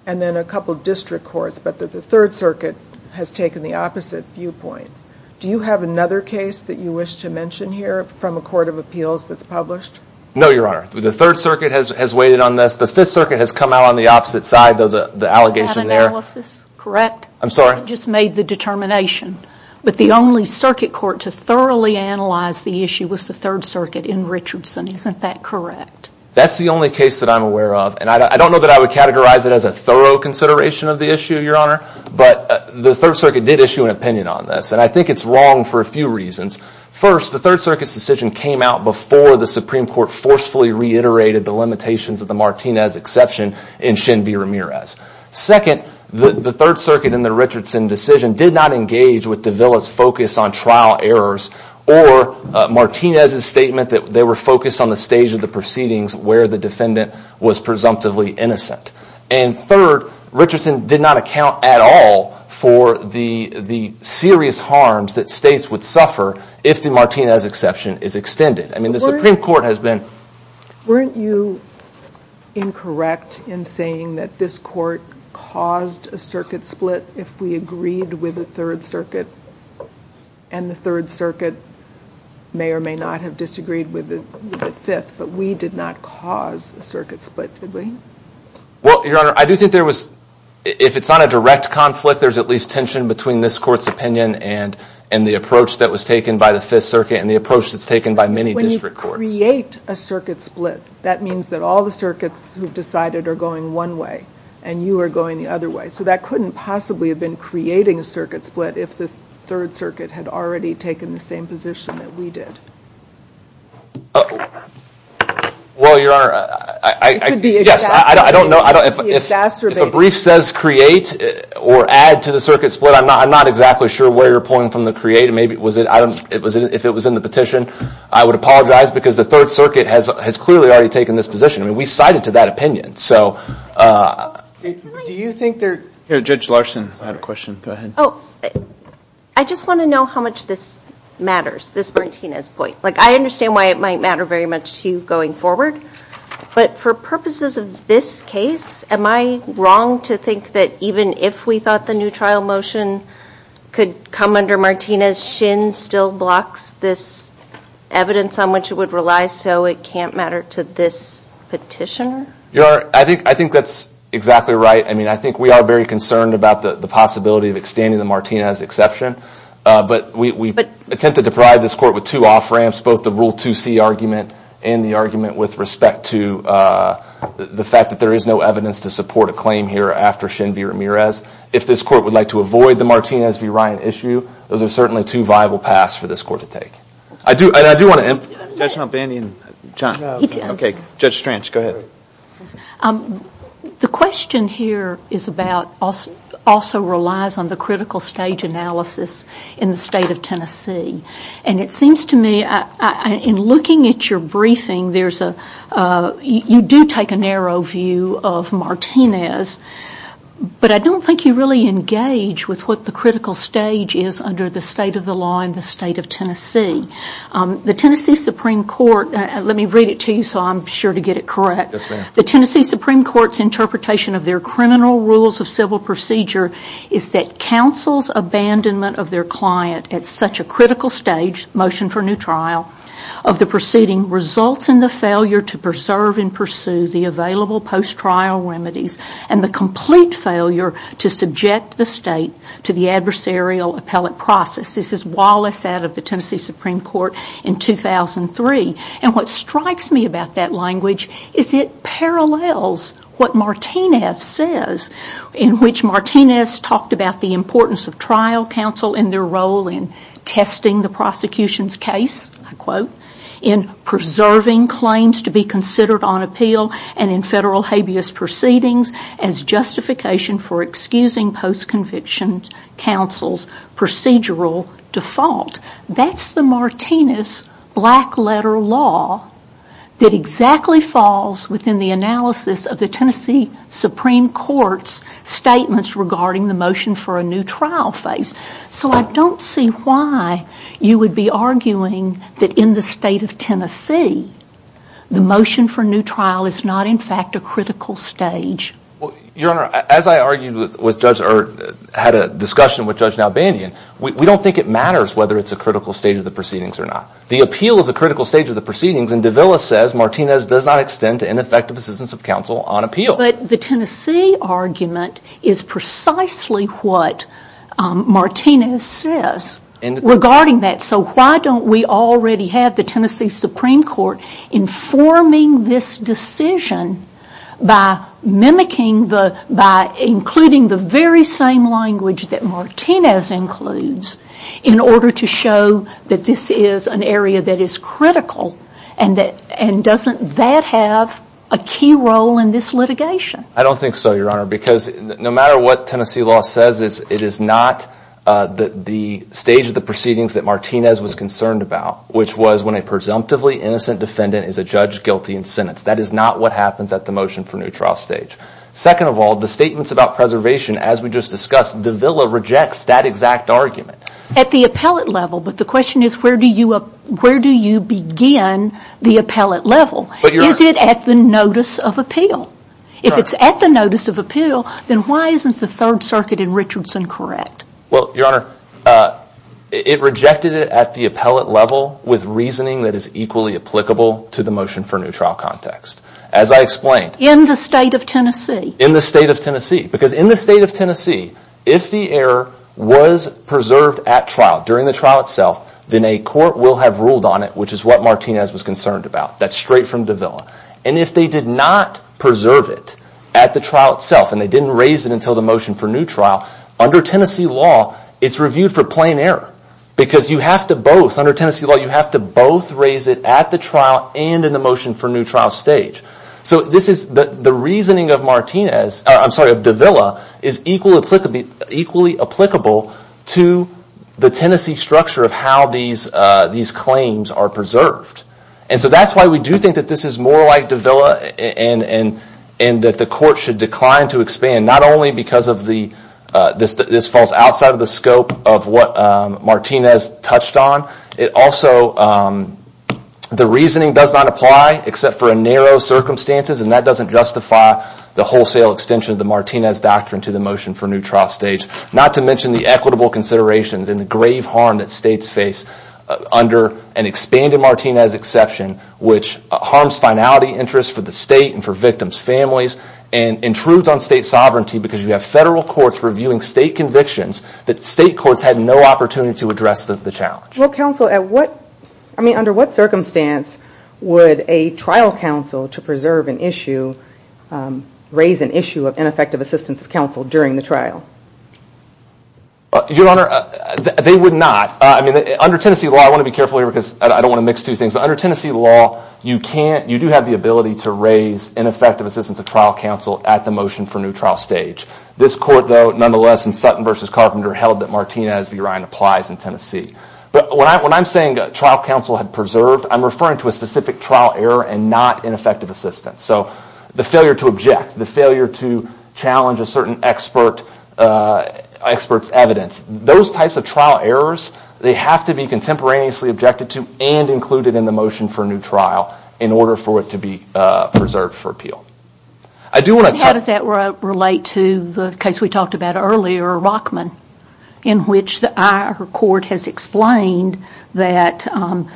and then a couple district courts, but the Third Circuit has taken the opposite viewpoint. Do you have another case that you wish to mention here from a court of appeals that's published? No, Your Honor. The Third Circuit has waited on this. The Fifth Circuit has come out on the opposite side of the allegation there. You just made the determination, but the only circuit court to thoroughly analyze the issue was the Third Circuit in Richardson. Isn't that correct? That's the only case that I'm aware of. I don't know that I would categorize it as a thorough consideration of the issue, Your Honor, but the Third Circuit did issue an opinion on this. I think it's wrong for a few reasons. First, the Third Circuit's decision came out before the Supreme Court forcefully reiterated the limitations of the Martinez exception in Shin v. Ramirez. Second, the Third Circuit in the Richardson decision did not engage with De Villa's focus on trial errors or Martinez's statement that they were focused on the stage of the proceedings where the defendant was presumptively innocent. Third, Richardson did not account at all for the serious harms that states would suffer if the Martinez exception is extended. I mean, the Supreme Court has been... Weren't you incorrect in saying that this court caused a circuit split if we agreed with the Third Circuit, and the Third Circuit may or may not have disagreed with the Fifth, but we did not cause a circuit split, did we? Well, Your Honor, I do think there was... If it's not a direct conflict, there's at least tension between this court's opinion and the approach that was taken by the Fifth Circuit and the approach that's taken by many district courts. When you create a circuit split, that means that all the circuits who've decided are going one way and you are going the other way. So that couldn't possibly have been creating a circuit split if the Third Circuit had already taken the same position that we did. Well, Your Honor, I... It could be exacerbated. Yes, I don't know. If a brief says create or add to the circuit split, I'm not exactly sure where you're pulling from the create. If it was in the petition, I would apologize because the Third Circuit has clearly already taken this position. I mean, we cited to that opinion, so... Do you think there... Here, Judge Larson had a question. Go ahead. Oh, I just want to know how much this matters, this Martinez point. I understand why it might matter very much to you going forward, but for purposes of this case, am I wrong to think that even if we thought the new trial motion could come under Martinez, Shin still blocks this evidence on which it would rely, so it can't matter to this petitioner? Your Honor, I think that's exactly right. I mean, I think we are very concerned about the possibility of extending the Martinez exception, but we attempted to provide this court with two off-ramps, both the Rule 2C argument and the argument with respect to the fact that there is no evidence to If this court would like to avoid the Martinez v. Ryan issue, those are certainly two viable paths for this court to take. I do want to... Judge Stranch, go ahead. The question here is about, also relies on the critical stage analysis in the state of Tennessee, and it seems to me, in looking at your briefing, there's a... You do take a narrow view of Martinez, but I don't think you really engage with what the critical stage is under the state of the law in the state of Tennessee. The Tennessee Supreme Court... Let me read it to you so I'm sure to get it correct. Yes, ma'am. The Tennessee Supreme Court's interpretation of their criminal rules of civil procedure is that counsel's abandonment of their client at such a critical stage, motion for new trial, of the proceeding results in the failure to preserve and pursue the available post-trial remedies, and the complete failure to subject the state to the adversarial appellate process. This is Wallace out of the Tennessee Supreme Court in 2003, and what strikes me about that language is it parallels what Martinez says, in which Martinez talked about the importance of trial counsel in their role in testing the prosecution's case, I quote, in preserving claims to be proceedings as justification for excusing post-conviction counsel's procedural default. That's the Martinez black letter law that exactly falls within the analysis of the Tennessee Supreme Court's statements regarding the motion for a new trial phase. So I don't see why you would be arguing that in the state of Tennessee, the motion for new trial is not, in fact, a critical stage. Well, Your Honor, as I argued with Judge, or had a discussion with Judge Nalbandian, we don't think it matters whether it's a critical stage of the proceedings or not. The appeal is a critical stage of the proceedings, and Davila says Martinez does not extend to ineffective assistance of counsel on appeal. But the Tennessee argument is precisely what Martinez says regarding that. So why don't we already have the Tennessee Supreme Court informing this decision by mimicking the, by including the very same language that Martinez includes, in order to show that this is an area that is critical, and that, and doesn't that have a key role in this litigation? I don't think so, Your Honor, because no matter what Tennessee law says, it is not the stage of the proceedings that Martinez was concerned about, which was when a presumptively innocent defendant is a judge guilty in sentence. That is not what happens at the motion for new trial stage. Second of all, the statements about preservation, as we just discussed, Davila rejects that exact argument. At the appellate level, but the question is where do you begin the appellate level? Is it at the notice of appeal? If it's at the notice of appeal, then why isn't the Third Circuit in Richardson correct? Well, Your Honor, it rejected it at the appellate level with reasoning that is equally applicable to the motion for new trial context. As I explained- In the state of Tennessee. In the state of Tennessee, because in the state of Tennessee, if the error was preserved at trial, during the trial itself, then a court will have ruled on it, which is what Martinez was concerned about. That's straight from Davila. And if they did not preserve it at the trial itself, and they didn't raise it until the motion for new trial, under Tennessee law, it's reviewed for plain error. Because you have to both, under Tennessee law, you have to both raise it at the trial and in the motion for new trial stage. So the reasoning of Davila is equally applicable to the Tennessee structure of how these claims are preserved. And so that's why we do think that this is more like Davila and that the court should decline to expand, not only because this falls outside of the scope of what Martinez touched on. The reasoning does not apply, except for a narrow circumstances, and that doesn't justify the wholesale extension of the Martinez doctrine to the motion for new trial stage. Not to mention the equitable considerations and the grave harm that states face under an expanded Martinez exception, which harms finality interests for the state and for victims' families, and intrudes on state sovereignty. Because you have federal courts reviewing state convictions that state courts had no opportunity to address the challenge. Well, counsel, under what circumstance would a trial counsel to preserve an issue, raise an issue of ineffective assistance of counsel during the trial? Your Honor, they would not. Under Tennessee law, I want to be careful here, because I don't want to mix two things. But under Tennessee law, you do have the ability to raise ineffective assistance of trial counsel at the motion for new trial stage. This court, though, nonetheless, in Sutton v. Carpenter, held that Martinez v. Ryan applies in Tennessee. But when I'm saying trial counsel had preserved, I'm referring to a specific trial error and not ineffective assistance. So the failure to object, the failure to challenge a certain expert's evidence, those types of trial errors, they have to be contemporaneously objected to and included in the motion for new trial in order for it to be preserved for appeal. And how does that relate to the case we talked about earlier, Rockman, in which our court has explained that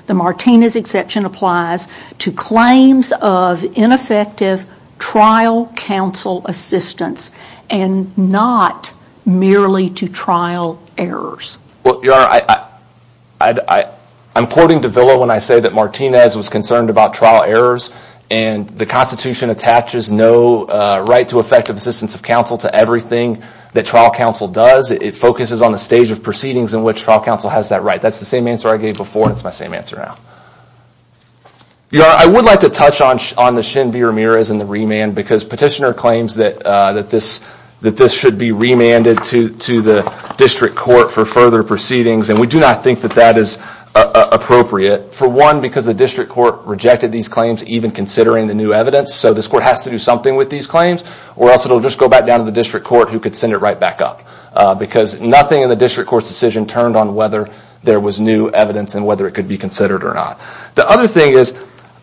the Martinez exception applies to claims of ineffective trial counsel assistance and not merely to trial errors? Well, Your Honor, I'm quoting de Villa when I say that Martinez was concerned about trial errors and the Constitution attaches no right to effective assistance of counsel to everything that trial counsel does. It focuses on the stage of proceedings in which trial counsel has that right. That's the same answer I gave before. It's my same answer now. Your Honor, I would like to touch on the Shin v. Ramirez and the remand, because Petitioner claims that this should be remanded to the district court for further proceedings. And we do not think that that is appropriate, for one, because the district court rejected these claims, even considering the new evidence. So this court has to do something with these claims, or else it'll just go back down to the district court who could send it right back up, because nothing in the district court's decision turned on whether there was new evidence and whether it could be considered or not. The other thing is,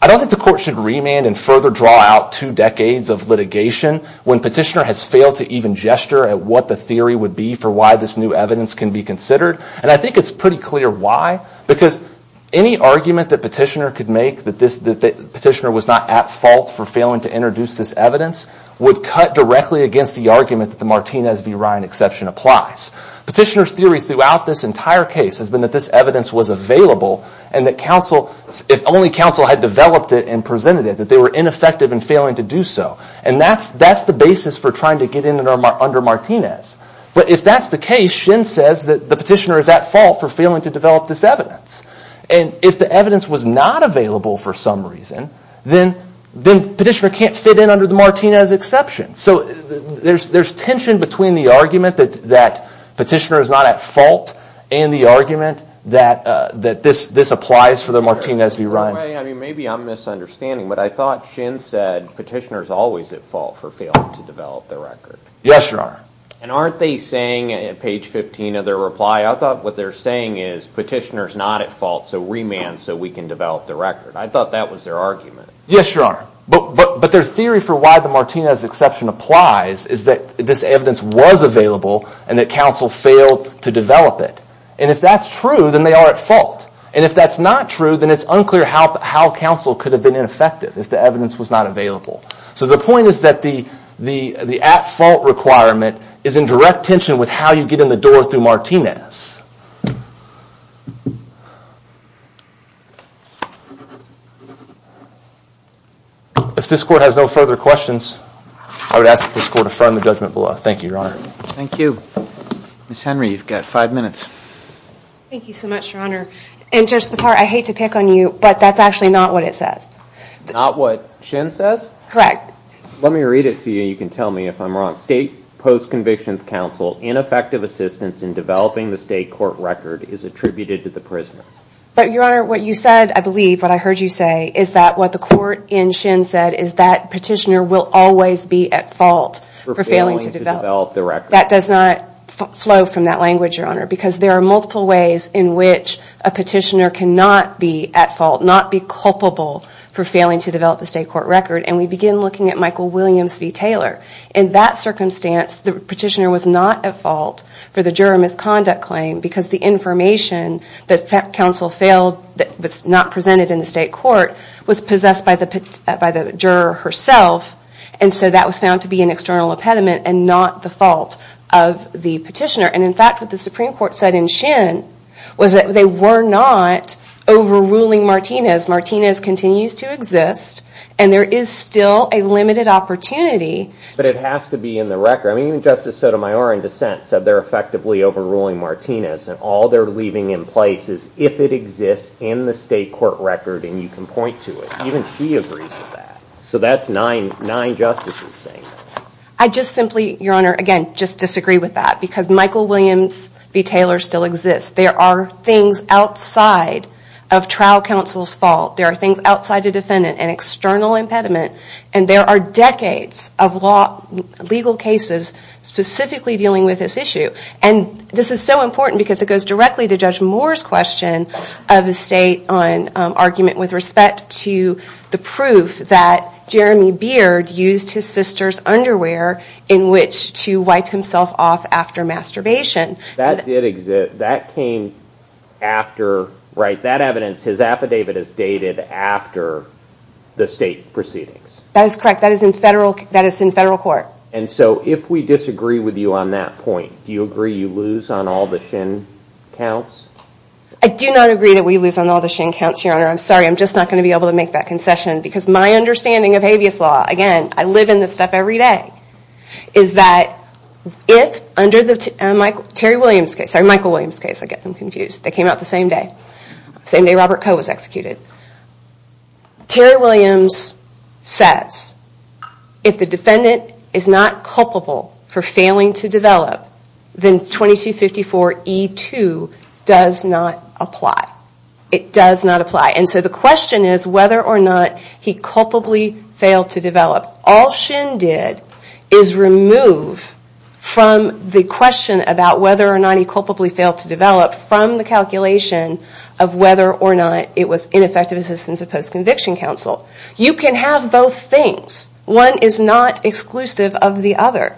I don't think the court should remand and further draw out two decades of litigation when Petitioner has failed to even gesture at what the theory would be for why this new evidence can be considered. And I think it's pretty clear why. Because any argument that Petitioner could make that Petitioner was not at fault for failing to introduce this evidence would cut directly against the argument that the Martinez v. Ryan exception applies. Petitioner's theory throughout this entire case has been that this evidence was available and that if only counsel had developed it and presented it, that they were ineffective in failing to do so. And that's the basis for trying to get in under Martinez. But if that's the case, Shin says that the Petitioner is at fault for failing to develop this evidence. And if the evidence was not available for some reason, then Petitioner can't fit in under the Martinez exception. So there's tension between the argument that Petitioner is not at fault and the argument that this applies for the Martinez v. Ryan. I mean, maybe I'm misunderstanding, but I thought Shin said Petitioner's always at fault for failing to develop the record. Yes, you are. And aren't they saying at page 15 of their reply, I thought what they're saying is Petitioner's not at fault, so remand so we can develop the record. I thought that was their argument. Yes, you are. But their theory for why the Martinez exception applies is that this evidence was available and that counsel failed to develop it. And if that's true, then they are at fault. And if that's not true, then it's unclear how counsel could have been ineffective if the evidence was not available. So the point is that the at-fault requirement is in direct tension with how you get in the door through Martinez. If this Court has no further questions, I would ask that this Court affirm the judgment below. Thank you, Your Honor. Thank you. Ms. Henry, you've got five minutes. Thank you so much, Your Honor. And Judge Lepar, I hate to pick on you, but that's actually not what it says. Not what Shin says? Correct. Let me read it to you. You can tell me if I'm wrong. State Post-Convictions Counsel, ineffective assistance in developing the state court record is attributed to the prisoner. But Your Honor, what you said, I believe, what I heard you say, is that what the court in Shin said is that Petitioner will always be at fault for failing to develop the record. That does not flow from that language, Your Honor, because there are multiple ways in which a Petitioner cannot be at fault, not be culpable for failing to develop the state court record. And we begin looking at Michael Williams v. Taylor. In that circumstance, the Petitioner was not at fault for the juror misconduct claim because the information that counsel failed, that was not presented in the state court, was possessed by the juror herself, and so that was found to be an external impediment and not the fault of the Petitioner. And in fact, what the Supreme Court said in Shin was that they were not overruling Martinez. Martinez continues to exist and there is still a limited opportunity. But it has to be in the record. I mean, even Justice Sotomayor in dissent said they're effectively overruling Martinez and all they're leaving in place is if it exists in the state court record and you can point to it. Even she agrees with that. So that's nine justices saying that. I just simply, Your Honor, again, just disagree with that because Michael Williams v. Taylor still exists. There are things outside of trial counsel's fault. There are things outside the defendant, an external impediment, and there are decades of legal cases specifically dealing with this issue. And this is so important because it goes directly to Judge Moore's question of the state on argument with respect to the proof that Jeremy Beard used his sister's underwear in which to wipe himself off after masturbation. That did exist. That came after, right? That evidence, his affidavit is dated after the state proceedings. That is correct. That is in federal court. And so if we disagree with you on that point, do you agree you lose on all the Shin counts? I do not agree that we lose on all the Shin counts, Your Honor. I'm sorry. I'm just not going to be able to make that concession because my understanding of habeas law, again, I live in this stuff every day, is that if under Terry Williams' case, sorry, Michael Williams' case, I get them confused. They came out the same day. Same day Robert Coe was executed. Terry Williams says if the defendant is not culpable for failing to develop, then 2254E2 does not apply. It does not apply. And so the question is whether or not he culpably failed to develop. All Shin did is remove from the question about whether or not he culpably failed to develop from the calculation of whether or not it was ineffective assistance of post-conviction counsel. You can have both things. One is not exclusive of the other.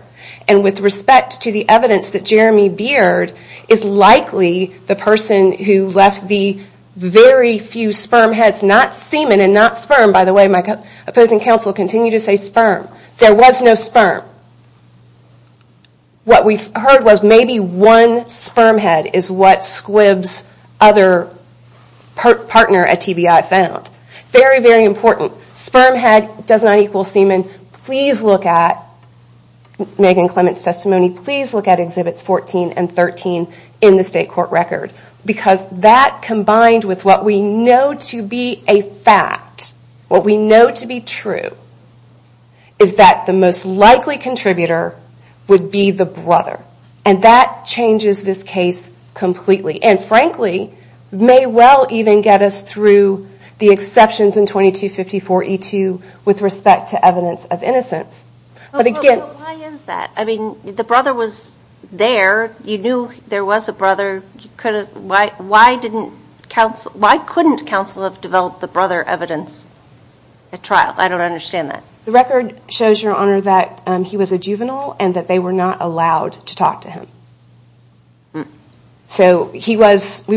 And with respect to the evidence that Jeremy Beard is likely the person who left the very few sperm heads, not semen and not sperm. By the way, my opposing counsel continued to say sperm. There was no sperm. What we heard was maybe one sperm head is what Squibb's other partner at TBI found. Very, very important. Sperm head does not equal semen. Please look at Megan Clement's testimony. Please look at Exhibits 14 and 13 in the state court record. Because that combined with what we know to be a fact, what we know to be true, is that the most likely contributor would be the brother. And that changes this case completely. And frankly, may well even get us through the exceptions in 2254E2 with respect to evidence of innocence. But again... But why is that? I mean, the brother was there. You knew there was a brother. Why couldn't counsel have developed the brother evidence at trial? I don't understand that. The record shows, Your Honor, that he was a juvenile and that they were not allowed to talk to him. So, we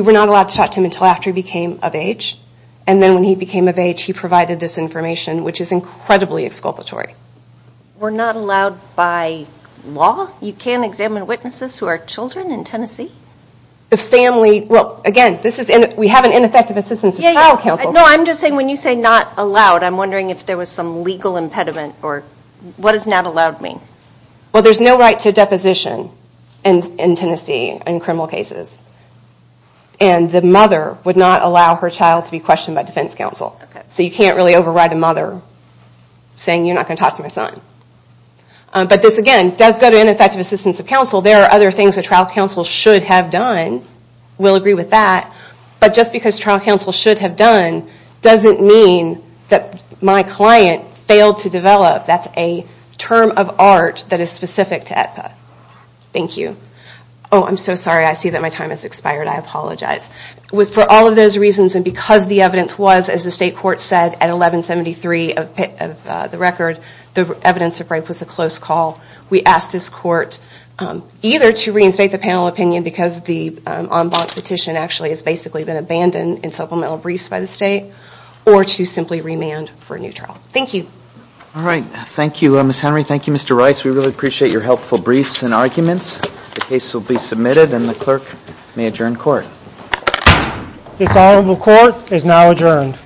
were not allowed to talk to him until after he became of age. And then when he became of age, he provided this information, which is incredibly exculpatory. We're not allowed by law? You can't examine witnesses who are children in Tennessee? The family... Well, again, we have an ineffective assistance of trial counsel. No, I'm just saying, when you say not allowed, I'm wondering if there was some legal impediment or what does not allowed mean? Well, there's no right to deposition. In Tennessee, in criminal cases. And the mother would not allow her child to be questioned by defense counsel. So, you can't really override a mother saying, you're not going to talk to my son. But this, again, does go to ineffective assistance of counsel. There are other things that trial counsel should have done. We'll agree with that. But just because trial counsel should have done doesn't mean that my client failed to develop. That's a term of art that is specific to AETPA. Thank you. Oh, I'm so sorry. I see that my time has expired. I apologize. For all of those reasons, and because the evidence was, as the state court said, at 1173 of the record, the evidence of rape was a close call. We ask this court either to reinstate the panel opinion because the en banc petition actually has basically been abandoned in supplemental briefs by the state, or to simply remand for a new trial. Thank you. All right. Thank you, Ms. Henry. Thank you, Mr. Rice. We really appreciate your helpful briefs and arguments. The case will be submitted, and the clerk may adjourn court. This honorable court is now adjourned.